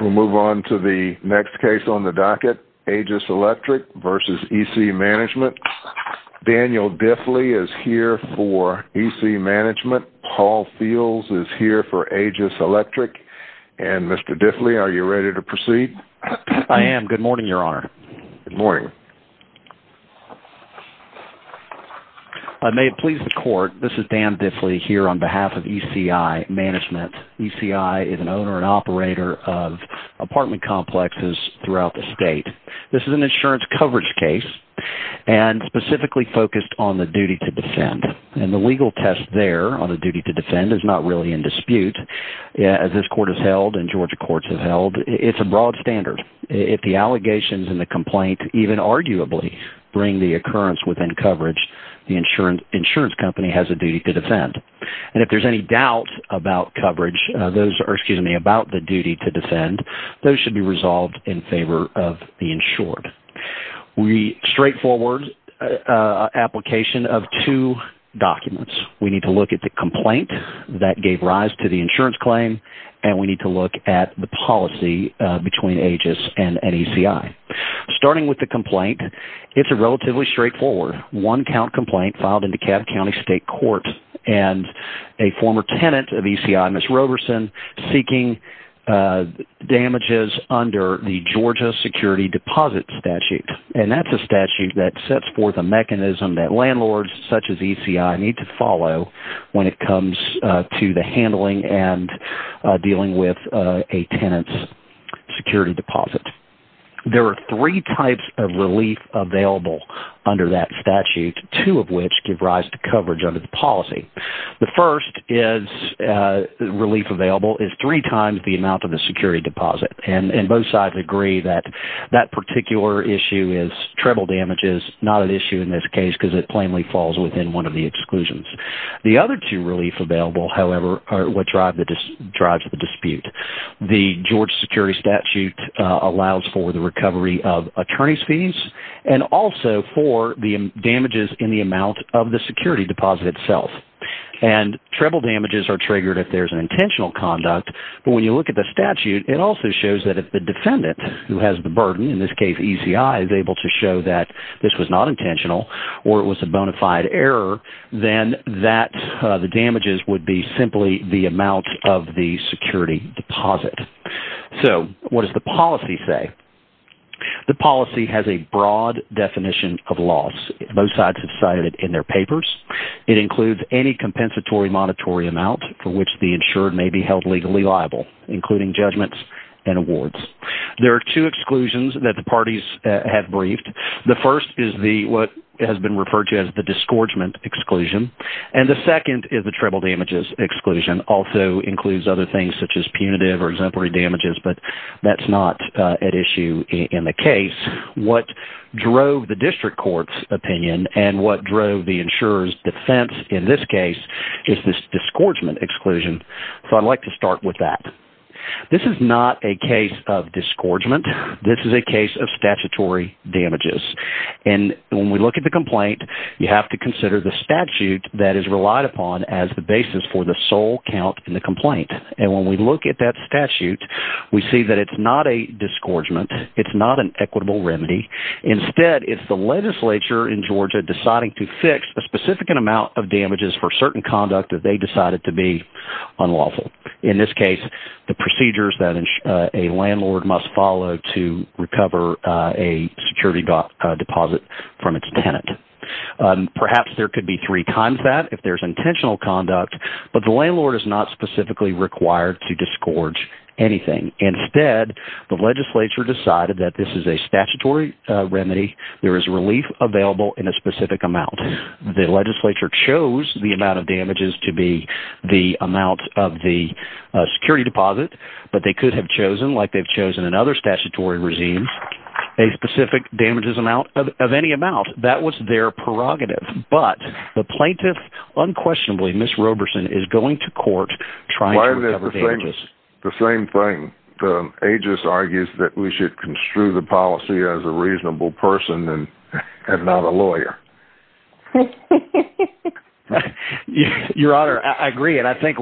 We will move on to the next case on the docket, AEGIS Electric v. ECI Management. Daniel Diffley is here for ECI Management. Paul Fields is here for AEGIS Electric. And Mr. Diffley, are you ready to proceed? I am. Good morning, Your Honor. Good morning. I may please the Court, this is Dan Diffley here on behalf of ECI Management. ECI is an owner and operator of apartment complexes throughout the state. This is an insurance coverage case and specifically focused on the duty to defend. And the legal test there on the duty to defend is not really in dispute. As this Court has held and Georgia courts have held, it's a broad standard. If the allegations in the complaint even arguably bring the occurrence within coverage, the insurance company has a duty to defend. And if there's any doubt about the duty to defend, those should be resolved in favor of the insured. We straightforward application of two documents. We need to look at the complaint that gave rise to the insurance claim and we need to look at the policy between AEGIS and ECI. Starting with the complaint, it's relatively straightforward. One count complaint filed in DeKalb County State Court and a former tenant of ECI, Ms. Roberson, seeking damages under the Georgia Security Deposit Statute. And that's a statute that sets forth a mechanism that landlords such as ECI need to follow when it comes to the handling and dealing with a tenant's security deposit. There are three types of relief available under that statute, two of which give rise to coverage under the policy. The first relief available is three times the amount of the security deposit. And both sides agree that that particular issue is treble damages, not an issue in this case because it plainly falls within one of the exclusions. The other two relief available, however, are what drives the dispute. The Georgia Security Statute allows for the recovery of attorney's fees and also for the damages in the amount of the security deposit itself. And treble damages are triggered if there's an intentional conduct, but when you look at the statute, it also shows that if the defendant who has the burden, in this case ECI, is able to show that this was not intentional or it was a bona fide error, then the damages would be simply the amount of the security deposit. So what does the policy say? The policy has a broad definition of loss. Both sides have cited it in their papers. It includes any compensatory monetary amount for which the insured may be held legally liable, including judgments and awards. There are two exclusions that the parties have briefed. The first is what has been referred to as the disgorgement exclusion, and the second is the treble damages exclusion. It also includes other things such as punitive or exemplary damages, but that's not at issue in the case. What drove the district court's opinion and what drove the insurer's defense in this case is this disgorgement exclusion, so I'd like to start with that. This is not a case of disgorgement. This is a case of statutory damages. And when we look at the complaint, you have to consider the statute that is relied upon as the basis for the sole count in the complaint. And when we look at that statute, we see that it's not a disgorgement. It's not an equitable remedy. Instead, it's the legislature in Georgia deciding to fix a specific amount of damages for certain conduct that they decided to be unlawful. In this case, the procedures that a landlord must follow to recover a security deposit from its tenant. Perhaps there could be three times that if there's intentional conduct, but the landlord is not specifically required to disgorge anything. Instead, the legislature decided that this is a statutory remedy. There is relief available in a specific amount. The legislature chose the amount of damages to be the amount of the security deposit, but they could have chosen, like they've chosen in other statutory regimes, a specific damages amount of any amount. That was their prerogative. But the plaintiff, unquestionably, Ms. Roberson, is going to court trying to recover damages. Why is it the same thing? The aegis argues that we should construe the policy as a reasonable person and not a lawyer. Your Honor, I agree. I think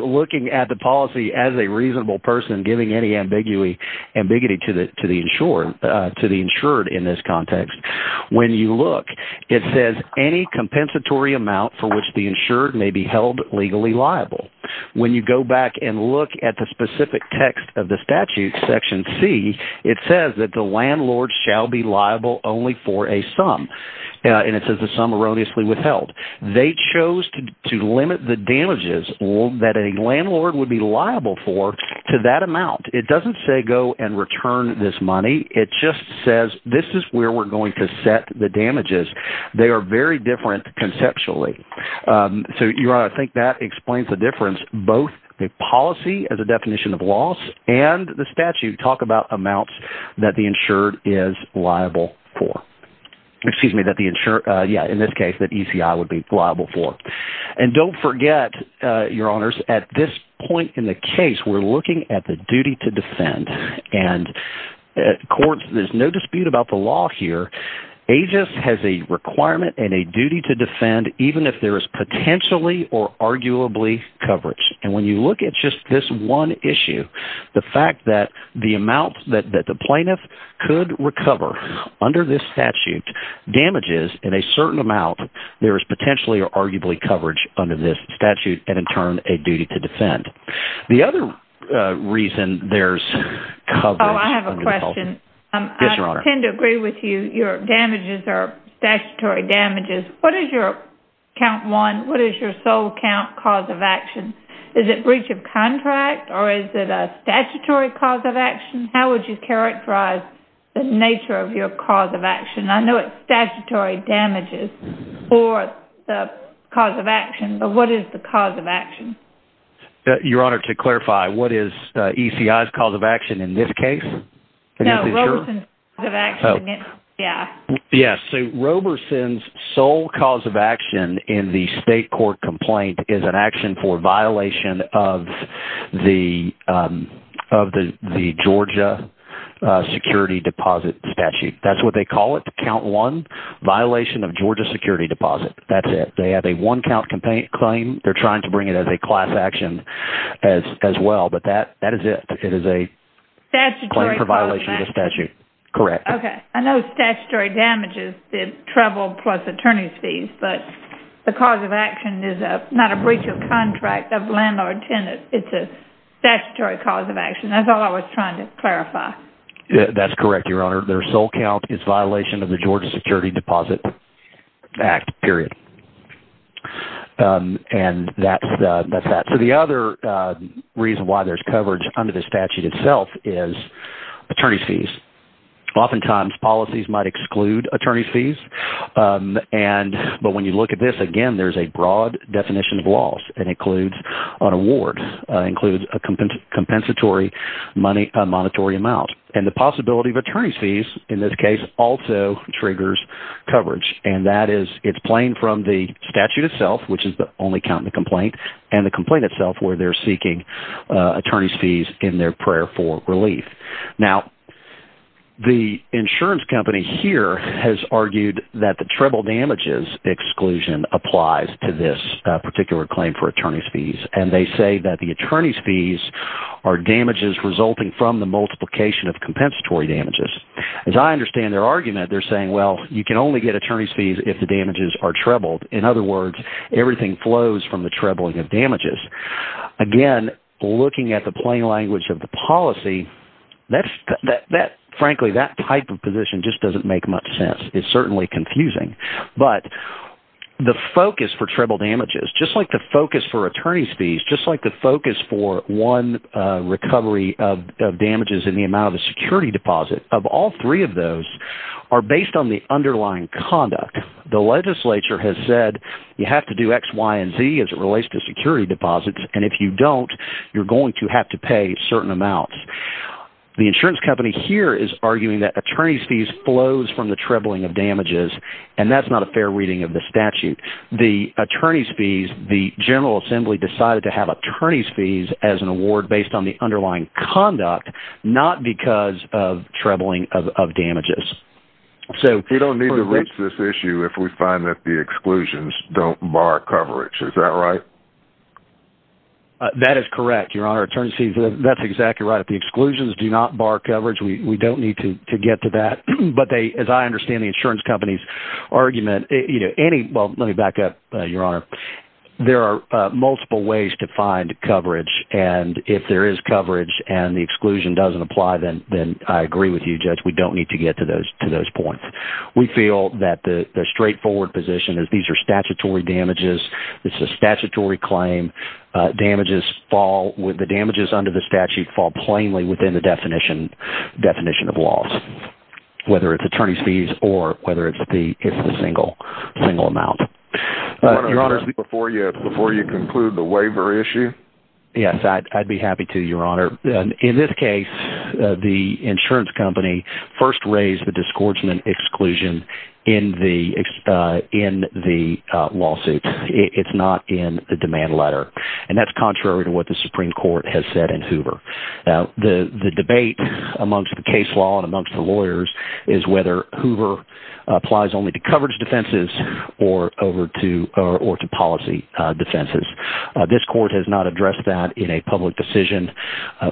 looking at the policy as a reasonable person, giving any ambiguity to the insured in this context, when you look, it says any compensatory amount for which the insured may be held legally liable. When you go back and look at the specific text of the statute, Section C, it says that the landlord shall be liable only for a sum. And it says the sum erroneously withheld. They chose to limit the damages that a landlord would be liable for to that amount. It doesn't say go and return this money. It just says this is where we're going to set the damages. They are very different conceptually. So, Your Honor, I think that explains the difference. Both the policy as a definition of loss and the statute talk about amounts that the insured is liable for. Excuse me, in this case, that ECI would be liable for. And don't forget, Your Honors, at this point in the case, we're looking at the duty to defend. And there's no dispute about the law here. AGIS has a requirement and a duty to defend even if there is potentially or arguably coverage. And when you look at just this one issue, the fact that the amount that the plaintiff could recover under this statute damages in a certain amount, there is potentially or arguably coverage under this statute and, in turn, a duty to defend. The other reason there's coverage… Oh, I have a question. Yes, Your Honor. I tend to agree with you. Your damages are statutory damages. What is your count one, what is your sole count cause of action? Is it breach of contract or is it a statutory cause of action? How would you characterize the nature of your cause of action? I know it's statutory damages or the cause of action, but what is the cause of action? Your Honor, to clarify, what is ECI's cause of action in this case? No, Roberson's cause of action. Yes, so Roberson's sole cause of action in the state court complaint is an action for violation of the Georgia security deposit statute. That's what they call it, the count one violation of Georgia security deposit. That's it. They have a one-count claim. They're trying to bring it as a class action as well, but that is it. Statutory cause of action. Claim for violation of the statute. Correct. Okay. I know statutory damages, the treble plus attorney's fees, but the cause of action is not a breach of contract of landlord-tenant. It's a statutory cause of action. That's all I was trying to clarify. That's correct, Your Honor. Their sole count is violation of the Georgia security deposit act, period. And that's that. The other reason why there's coverage under the statute itself is attorney's fees. Oftentimes, policies might exclude attorney's fees, but when you look at this, again, there's a broad definition of loss. It includes an award. It includes a compensatory monetary amount. And the possibility of attorney's fees in this case also triggers coverage, and that is it's plain from the statute itself, which is the only count in the complaint, and the complaint itself where they're seeking attorney's fees in their prayer for relief. Now, the insurance company here has argued that the treble damages exclusion applies to this particular claim for attorney's fees. And they say that the attorney's fees are damages resulting from the multiplication of compensatory damages. As I understand their argument, they're saying, well, you can only get attorney's fees if the damages are trebled. In other words, everything flows from the trebling of damages. Again, looking at the plain language of the policy, frankly, that type of position just doesn't make much sense. It's certainly confusing. But the focus for treble damages, just like the focus for attorney's fees, just like the focus for one recovery of damages in the amount of a security deposit, of all three of those are based on the underlying conduct. The legislature has said you have to do X, Y, and Z as it relates to security deposits. And if you don't, you're going to have to pay certain amounts. The insurance company here is arguing that attorney's fees flows from the trebling of damages, and that's not a fair reading of the statute. The attorney's fees, the General Assembly decided to have attorney's fees as an award based on the underlying conduct, not because of trebling of damages. We don't need to reach this issue if we find that the exclusions don't bar coverage. Is that right? That is correct, Your Honor. Attorney's fees, that's exactly right. If the exclusions do not bar coverage, we don't need to get to that. But as I understand the insurance company's argument, any – well, let me back up, Your Honor. There are multiple ways to find coverage, and if there is coverage and the exclusion doesn't apply, then I agree with you, Judge. We don't need to get to those points. We feel that the straightforward position is these are statutory damages. It's a statutory claim. Damages fall – the damages under the statute fall plainly within the definition of laws, whether it's attorney's fees or whether it's the single amount. Before you conclude the waiver issue? Yes, I'd be happy to, Your Honor. In this case, the insurance company first raised the disgorgement exclusion in the lawsuit. It's not in the demand letter, and that's contrary to what the Supreme Court has said in Hoover. The debate amongst the case law and amongst the lawyers is whether Hoover applies only to coverage defenses or to policy defenses. This court has not addressed that in a public decision.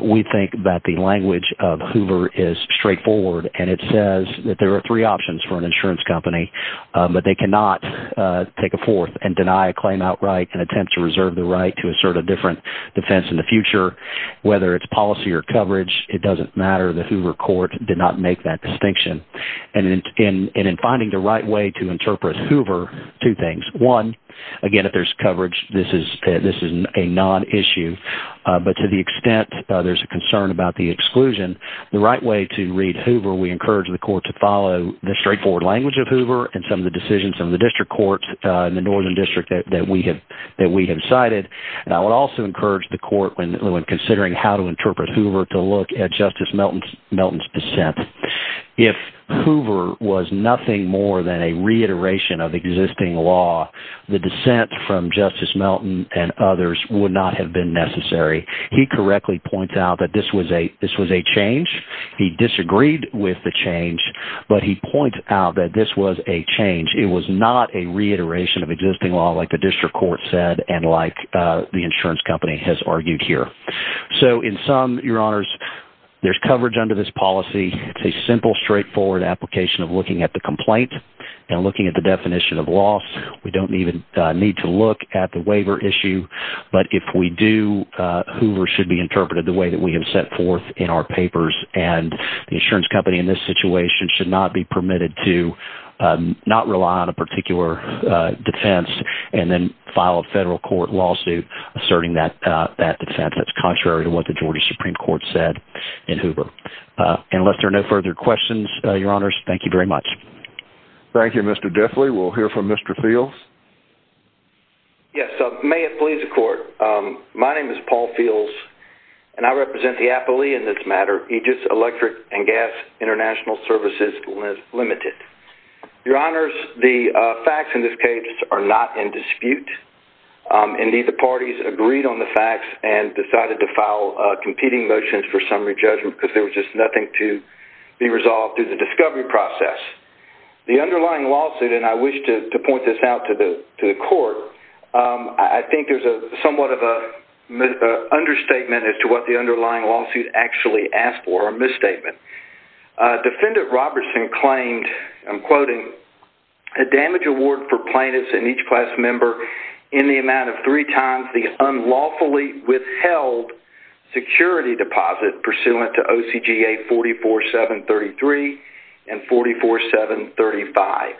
We think that the language of Hoover is straightforward, and it says that there are three options for an insurance company. But they cannot take a fourth and deny a claim outright and attempt to reserve the right to assert a different defense in the future. Whether it's policy or coverage, it doesn't matter. The Hoover court did not make that distinction. And in finding the right way to interpret Hoover, two things. One, again, if there's coverage, this is a non-issue. But to the extent there's a concern about the exclusion, the right way to read Hoover – we encourage the court to follow the straightforward language of Hoover and some of the decisions of the district courts in the northern district that we have cited. And I would also encourage the court, when considering how to interpret Hoover, to look at Justice Melton's dissent. If Hoover was nothing more than a reiteration of existing law, the dissent from Justice Melton and others would not have been necessary. He correctly points out that this was a change. He disagreed with the change, but he points out that this was a change. It was not a reiteration of existing law like the district court said and like the insurance company has argued here. So in sum, Your Honors, there's coverage under this policy. It's a simple, straightforward application of looking at the complaint and looking at the definition of loss. We don't even need to look at the waiver issue. But if we do, Hoover should be interpreted the way that we have set forth in our papers. And the insurance company in this situation should not be permitted to not rely on a particular defense and then file a federal court lawsuit asserting that defense. That's contrary to what the Georgia Supreme Court said in Hoover. And unless there are no further questions, Your Honors, thank you very much. Thank you, Mr. Diffley. We'll hear from Mr. Fields. Yes, may it please the court. My name is Paul Fields, and I represent the Apolee in this matter, Aegis Electric and Gas International Services Limited. Your Honors, the facts in this case are not in dispute. Indeed, the parties agreed on the facts and decided to file competing motions for summary judgment because there was just nothing to be resolved through the discovery process. The underlying lawsuit, and I wish to point this out to the court, I think there's somewhat of an understatement as to what the underlying lawsuit actually asked for, a misstatement. Defendant Robertson claimed, I'm quoting, a damage award for plaintiffs and each class member in the amount of three times the unlawfully withheld security deposit pursuant to OCGA 44733 and 44735.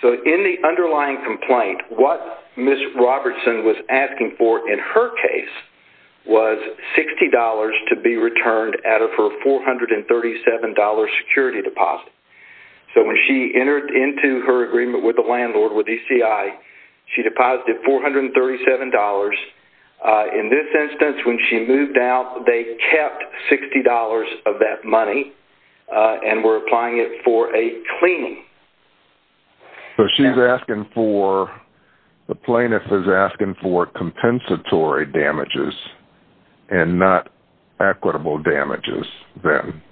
So in the underlying complaint, what Ms. Robertson was asking for in her case was $60 to be returned out of her $437 security deposit. So when she entered into her agreement with the landlord, with ECI, she deposited $437. In this instance, when she moved out, they kept $60 of that money and were applying it for a cleaning. So she's asking for, the plaintiff is asking for compensatory damages and not equitable damages then.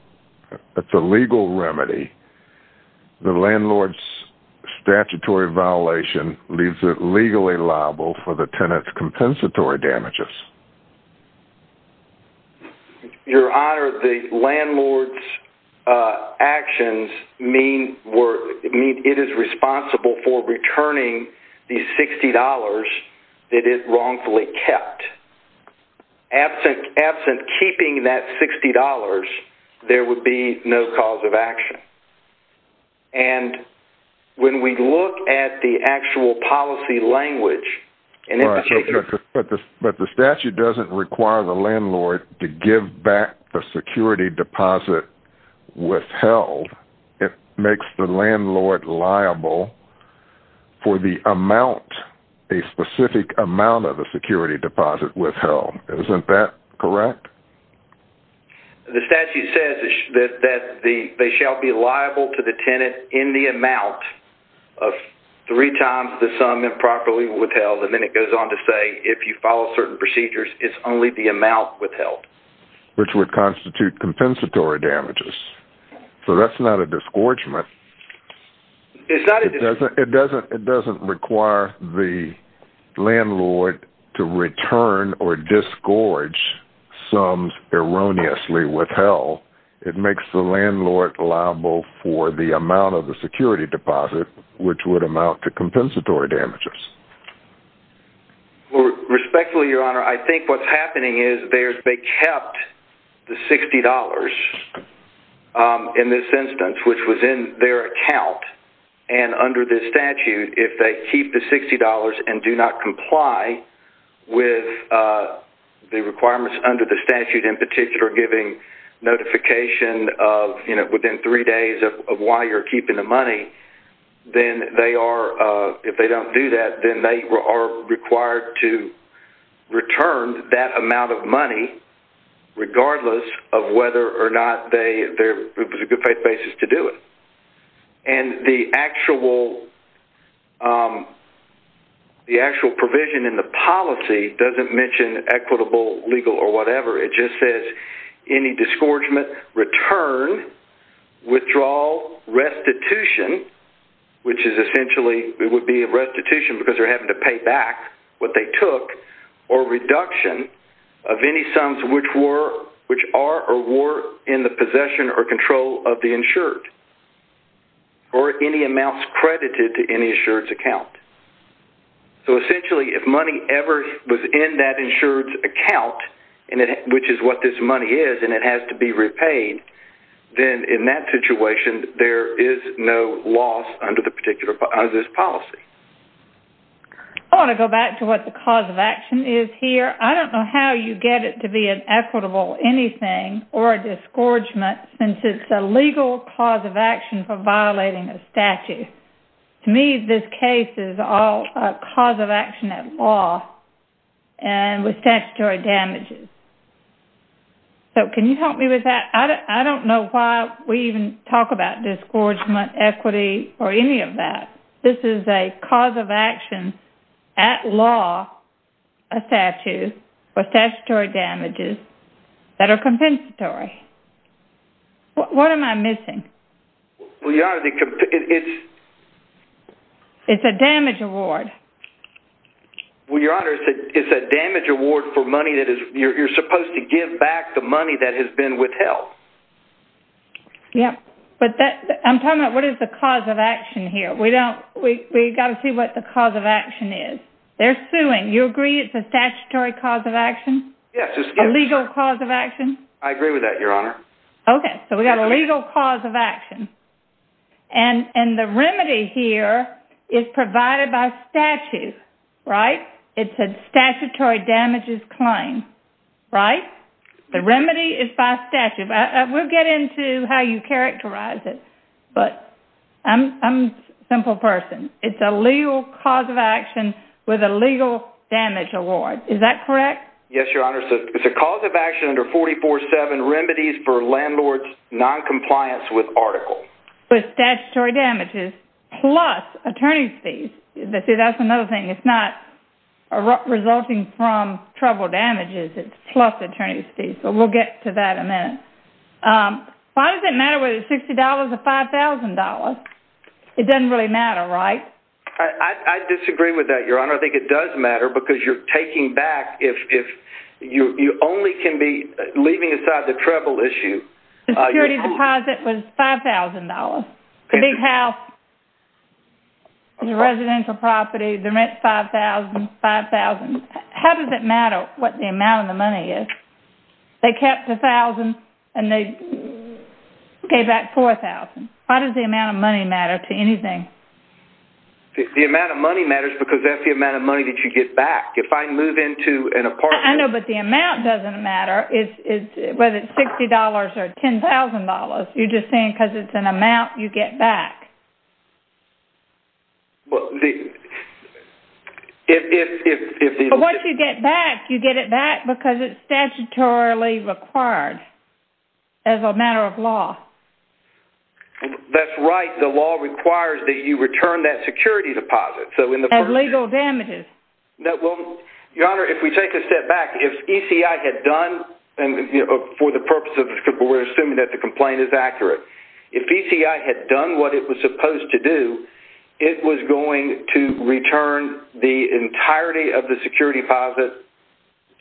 It's a legal remedy. The landlord's statutory violation leaves it legally liable for the tenant's compensatory damages. Your Honor, the landlord's actions mean it is responsible for returning the $60 that it wrongfully kept. Absent keeping that $60, there would be no cause of action. And when we look at the actual policy language... But the statute doesn't require the landlord to give back the security deposit withheld. It makes the landlord liable for the amount, a specific amount of the security deposit withheld. Isn't that correct? The statute says that they shall be liable to the tenant in the amount of three times the sum improperly withheld. And then it goes on to say if you follow certain procedures, it's only the amount withheld. Which would constitute compensatory damages. So that's not a disgorgement. It's not a disgorgement. It doesn't require the landlord to return or disgorge sums erroneously withheld. It makes the landlord liable for the amount of the security deposit, which would amount to compensatory damages. Respectfully, Your Honor, I think what's happening is they kept the $60 in this instance, which was in their account. And under this statute, if they keep the $60 and do not comply with the requirements under the statute, in particular giving notification within three days of why you're keeping the money, then they are, if they don't do that, then they are required to return that amount of money, regardless of whether or not it was a good basis to do it. And the actual provision in the policy doesn't mention equitable, legal, or whatever. It just says any disgorgement, return, withdrawal, restitution, which is essentially, it would be a restitution because they're having to pay back what they took, or reduction of any sums which are or were in the possession or control of the insured. Or any amounts credited to any insured's account. So essentially, if money ever was in that insured's account, which is what this money is, and it has to be repaid, then in that situation, there is no loss under this policy. I want to go back to what the cause of action is here. I don't know how you get it to be an equitable anything or a disgorgement, since it's a legal cause of action for violating a statute. To me, this case is all a cause of action at law and with statutory damages. So can you help me with that? I don't know why we even talk about disgorgement, equity, or any of that. This is a cause of action at law, a statute, for statutory damages that are compensatory. What am I missing? Well, Your Honor, it's... It's a damage award. Well, Your Honor, it's a damage award for money that is... You're supposed to give back the money that has been withheld. Yeah, but that... I'm talking about what is the cause of action here. We don't... We've got to see what the cause of action is. They're suing. You agree it's a statutory cause of action? Yes. A legal cause of action? I agree with that, Your Honor. Okay, so we've got a legal cause of action. And the remedy here is provided by statute, right? It's a statutory damages claim, right? The remedy is by statute. We'll get into how you characterize it, but I'm a simple person. It's a legal cause of action with a legal damage award. Is that correct? Yes, Your Honor. It's a cause of action under 44-7, remedies for landlord's noncompliance with article. But statutory damages plus attorney's fees. See, that's another thing. It's not resulting from trouble damages. It's plus attorney's fees. But we'll get to that in a minute. Why does it matter whether it's $60 or $5,000? It doesn't really matter, right? I disagree with that, Your Honor. It doesn't matter. I think it does matter because you're taking back. If you only can be leaving aside the trouble issue. The security deposit was $5,000. The big house is a residential property. The rent's $5,000. $5,000. How does it matter what the amount of the money is? They kept $1,000 and they gave back $4,000. Why does the amount of money matter to anything? The amount of money matters because that's the amount of money that you get back. If I move into an apartment- I know, but the amount doesn't matter. Whether it's $60 or $10,000, you're just saying because it's an amount you get back. But once you get it back, you get it back because it's statutorily required as a matter of law. That's right. The law requires that you return that security deposit. As legal damages. Your Honor, if we take a step back, if ECI had done for the purpose of- we're assuming that the complaint is accurate. If ECI had done what it was supposed to do, it was going to return the entirety of the security deposit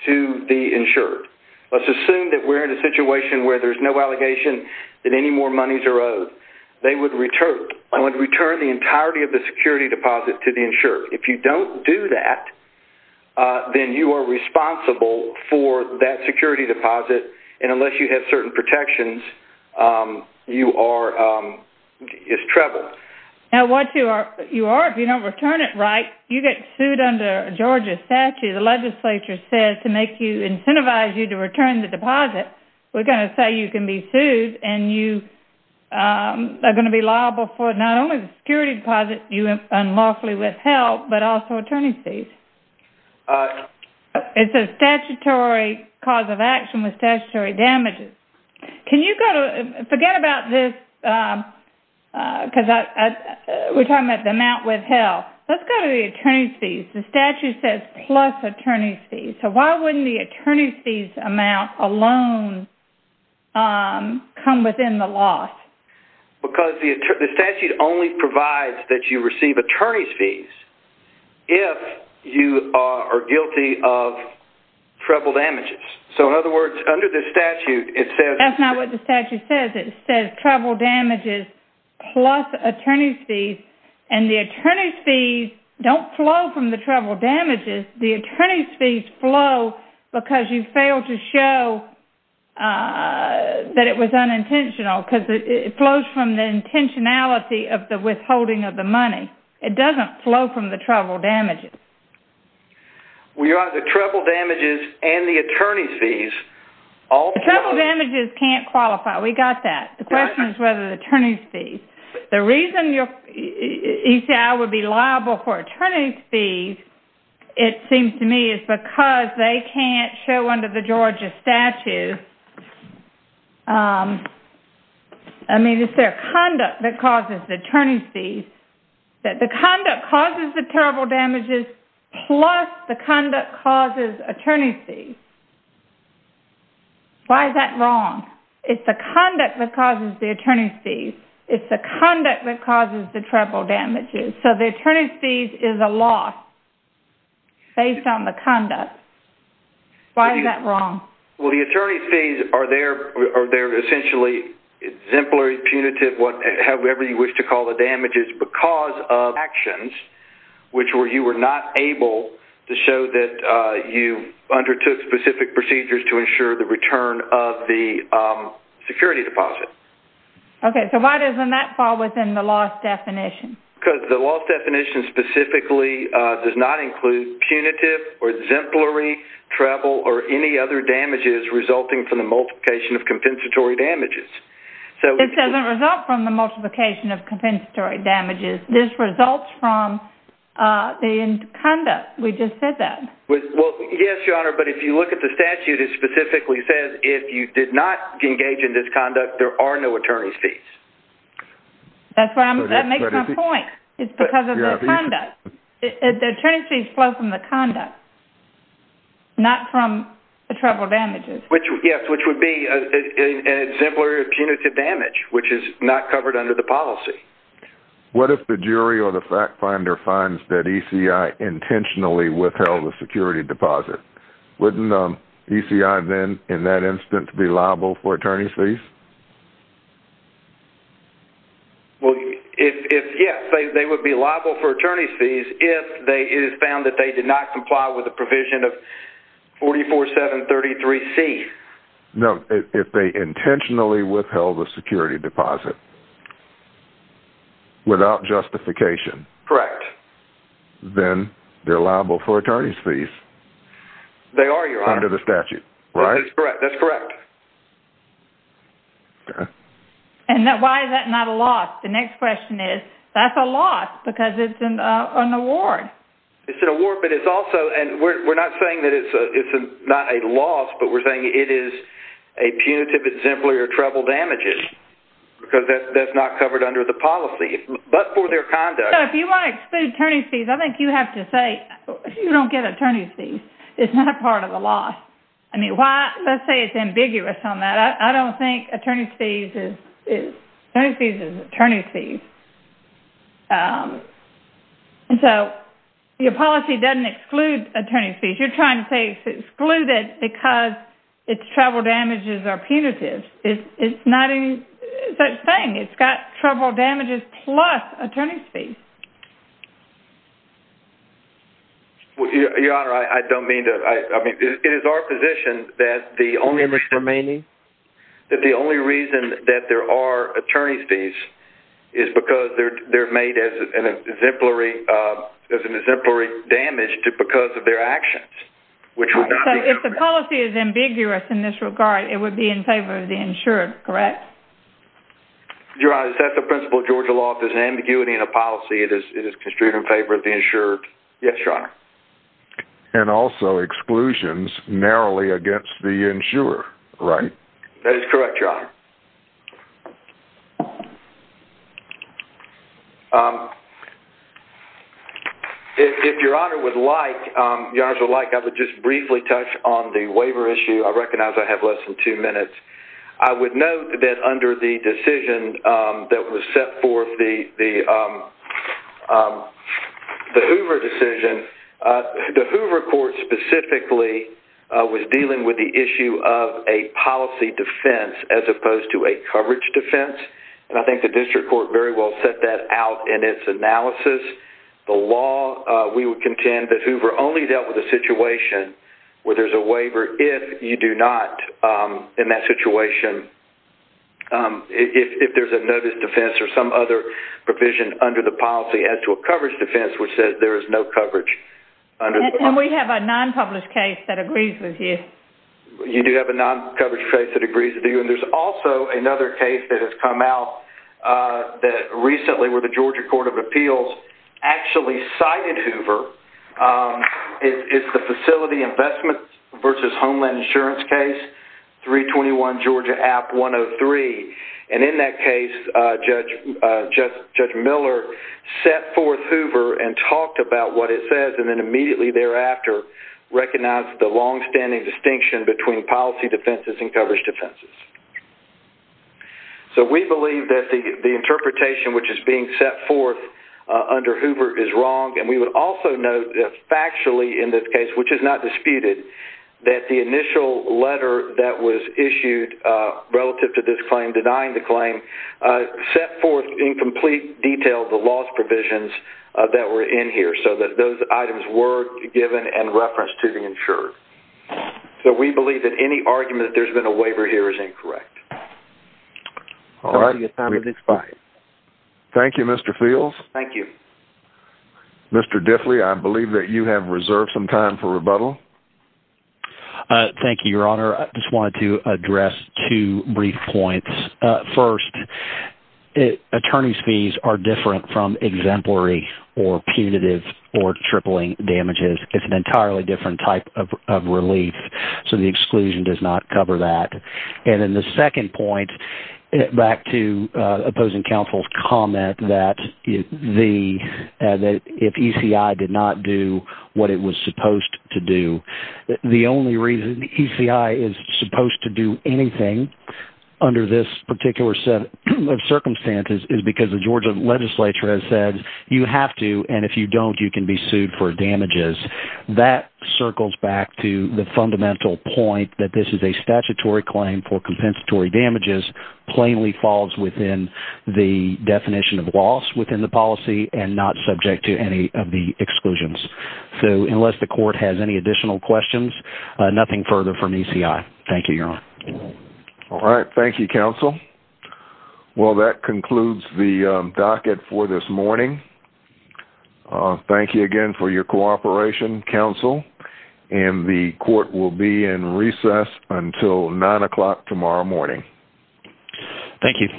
to the insured. Let's assume that we're in a situation where there's no allegation that any more monies are owed. They would return the entirety of the security deposit to the insured. If you don't do that, then you are responsible for that security deposit, and unless you have certain protections, you are- it's trouble. Now once you are- if you don't return it right, you get sued under Georgia statute. The legislature says to make you- incentivize you to return the deposit. We're going to say you can be sued and you are going to be liable for not only the security deposit you unlawfully withheld, but also attorney's fees. It's a statutory cause of action with statutory damages. Can you go to- forget about this, because we're talking about the amount withheld. Let's go to the attorney's fees. The statute says plus attorney's fees. So why wouldn't the attorney's fees amount alone come within the loss? Because the statute only provides that you receive attorney's fees if you are guilty of treble damages. So in other words, under the statute, it says- That's not what the statute says. It says treble damages plus attorney's fees, and the attorney's fees don't flow from the treble damages. The attorney's fees flow because you failed to show that it was unintentional, because it flows from the intentionality of the withholding of the money. It doesn't flow from the treble damages. Your Honor, the treble damages and the attorney's fees- The treble damages can't qualify. We got that. The question is whether the attorney's fees- The reason ECI would be liable for attorney's fees, it seems to me, is because they can't show under the Georgia statute- I mean, it's their conduct that causes the attorney's fees. The conduct causes the treble damages plus the conduct causes attorney's fees. Why is that wrong? It's the conduct that causes the attorney's fees. It's the conduct that causes the treble damages. So the attorney's fees is a loss based on the conduct. Why is that wrong? Well, the attorney's fees are essentially exemplary punitive, however you wish to call the damages, because of actions which you were not able to show that you undertook specific procedures to ensure the return of the security deposit. Okay, so why doesn't that fall within the loss definition? Because the loss definition specifically does not include punitive or exemplary treble or any other damages resulting from the multiplication of compensatory damages. It doesn't result from the multiplication of compensatory damages. This results from the conduct. We just said that. Yes, Your Honor, but if you look at the statute, it specifically says if you did not engage in this conduct, there are no attorney's fees. That makes my point. It's because of the conduct. The attorney's fees flow from the conduct, not from the treble damages. Yes, which would be an exemplary punitive damage, which is not covered under the policy. What if the jury or the fact finder finds that ECI intentionally withheld the security deposit? Wouldn't ECI then in that instance be liable for attorney's fees? Yes, they would be liable for attorney's fees if it is found that they did not comply with the provision of 44733C. No, if they intentionally withheld the security deposit without justification. Correct. Then they're liable for attorney's fees. They are, Your Honor. Under the statute, right? That's correct. Okay. And why is that not a loss? The next question is, that's a loss because it's an award. It's an award, but it's also, and we're not saying that it's not a loss, but we're saying it is a punitive exemplary or treble damages because that's not covered under the policy, but for their conduct. If you want to exclude attorney's fees, I think you have to say, you don't get attorney's fees. It's not a part of the loss. I mean, let's say it's ambiguous on that. I don't think attorney's fees is attorney's fees. And so your policy doesn't exclude attorney's fees. You're trying to say it's excluded because its treble damages are punitive. It's not such a thing. It's got treble damages plus attorney's fees. Your Honor, I don't mean to, I mean, it is our position that the only reason that there are attorney's fees is because they're made as an exemplary damage because of their actions. So if the policy is ambiguous in this regard, it would be in favor of the insurer, correct? Your Honor, is that the principle of Georgia law? If there's an ambiguity in a policy, it is construed in favor of the insurer. Yes, Your Honor. And also exclusions narrowly against the insurer, right? That is correct, Your Honor. If Your Honor would like, I would just briefly touch on the waiver issue. I recognize I have less than two minutes. I would note that under the decision that was set forth, the Hoover decision, the Hoover court specifically was dealing with the issue of a policy defense as opposed to a coverage defense. And I think the district court very well set that out in its analysis. The law, we would contend that Hoover only dealt with a situation where there's a waiver if you do not, in that situation, if there's a notice defense or some other provision under the policy as to a coverage defense which says there is no coverage. And we have a non-published case that agrees with you. You do have a non-published case that agrees with you. And there's also another case that has come out that recently where the Georgia Court of Appeals actually cited Hoover. It's the Facility Investment versus Homeland Insurance case, 321 Georgia App 103. And in that case, Judge Miller set forth Hoover and talked about what it says and then immediately thereafter recognized the longstanding distinction between policy defenses and coverage defenses. So we believe that the interpretation which is being set forth under Hoover is wrong. And we would also note that factually in this case, which is not disputed, that the initial letter that was issued relative to this claim, denying the claim, set forth in complete detail the loss provisions that were in here so that those items were given and referenced to be insured. So we believe that any argument that there's been a waiver here is incorrect. All right. Thank you, Mr. Fields. Thank you. Mr. Diffley, I believe that you have reserved some time for rebuttal. Thank you, Your Honor. I just wanted to address two brief points. First, attorney's fees are different from exemplary or punitive or tripling damages. It's an entirely different type of relief. So the exclusion does not cover that. And then the second point, back to opposing counsel's comment that if ECI did not do what it was supposed to do, the only reason ECI is supposed to do anything under this particular set of circumstances is because the Georgia legislature has said you have to, and if you don't, you can be sued for damages. That circles back to the fundamental point that this is a statutory claim for compensatory damages, plainly falls within the definition of loss within the policy, and not subject to any of the exclusions. So unless the court has any additional questions, nothing further from ECI. Thank you, Your Honor. All right. Thank you, counsel. Well, that concludes the docket for this morning. Thank you again for your cooperation, counsel. And the court will be in recess until 9 o'clock tomorrow morning. Thank you.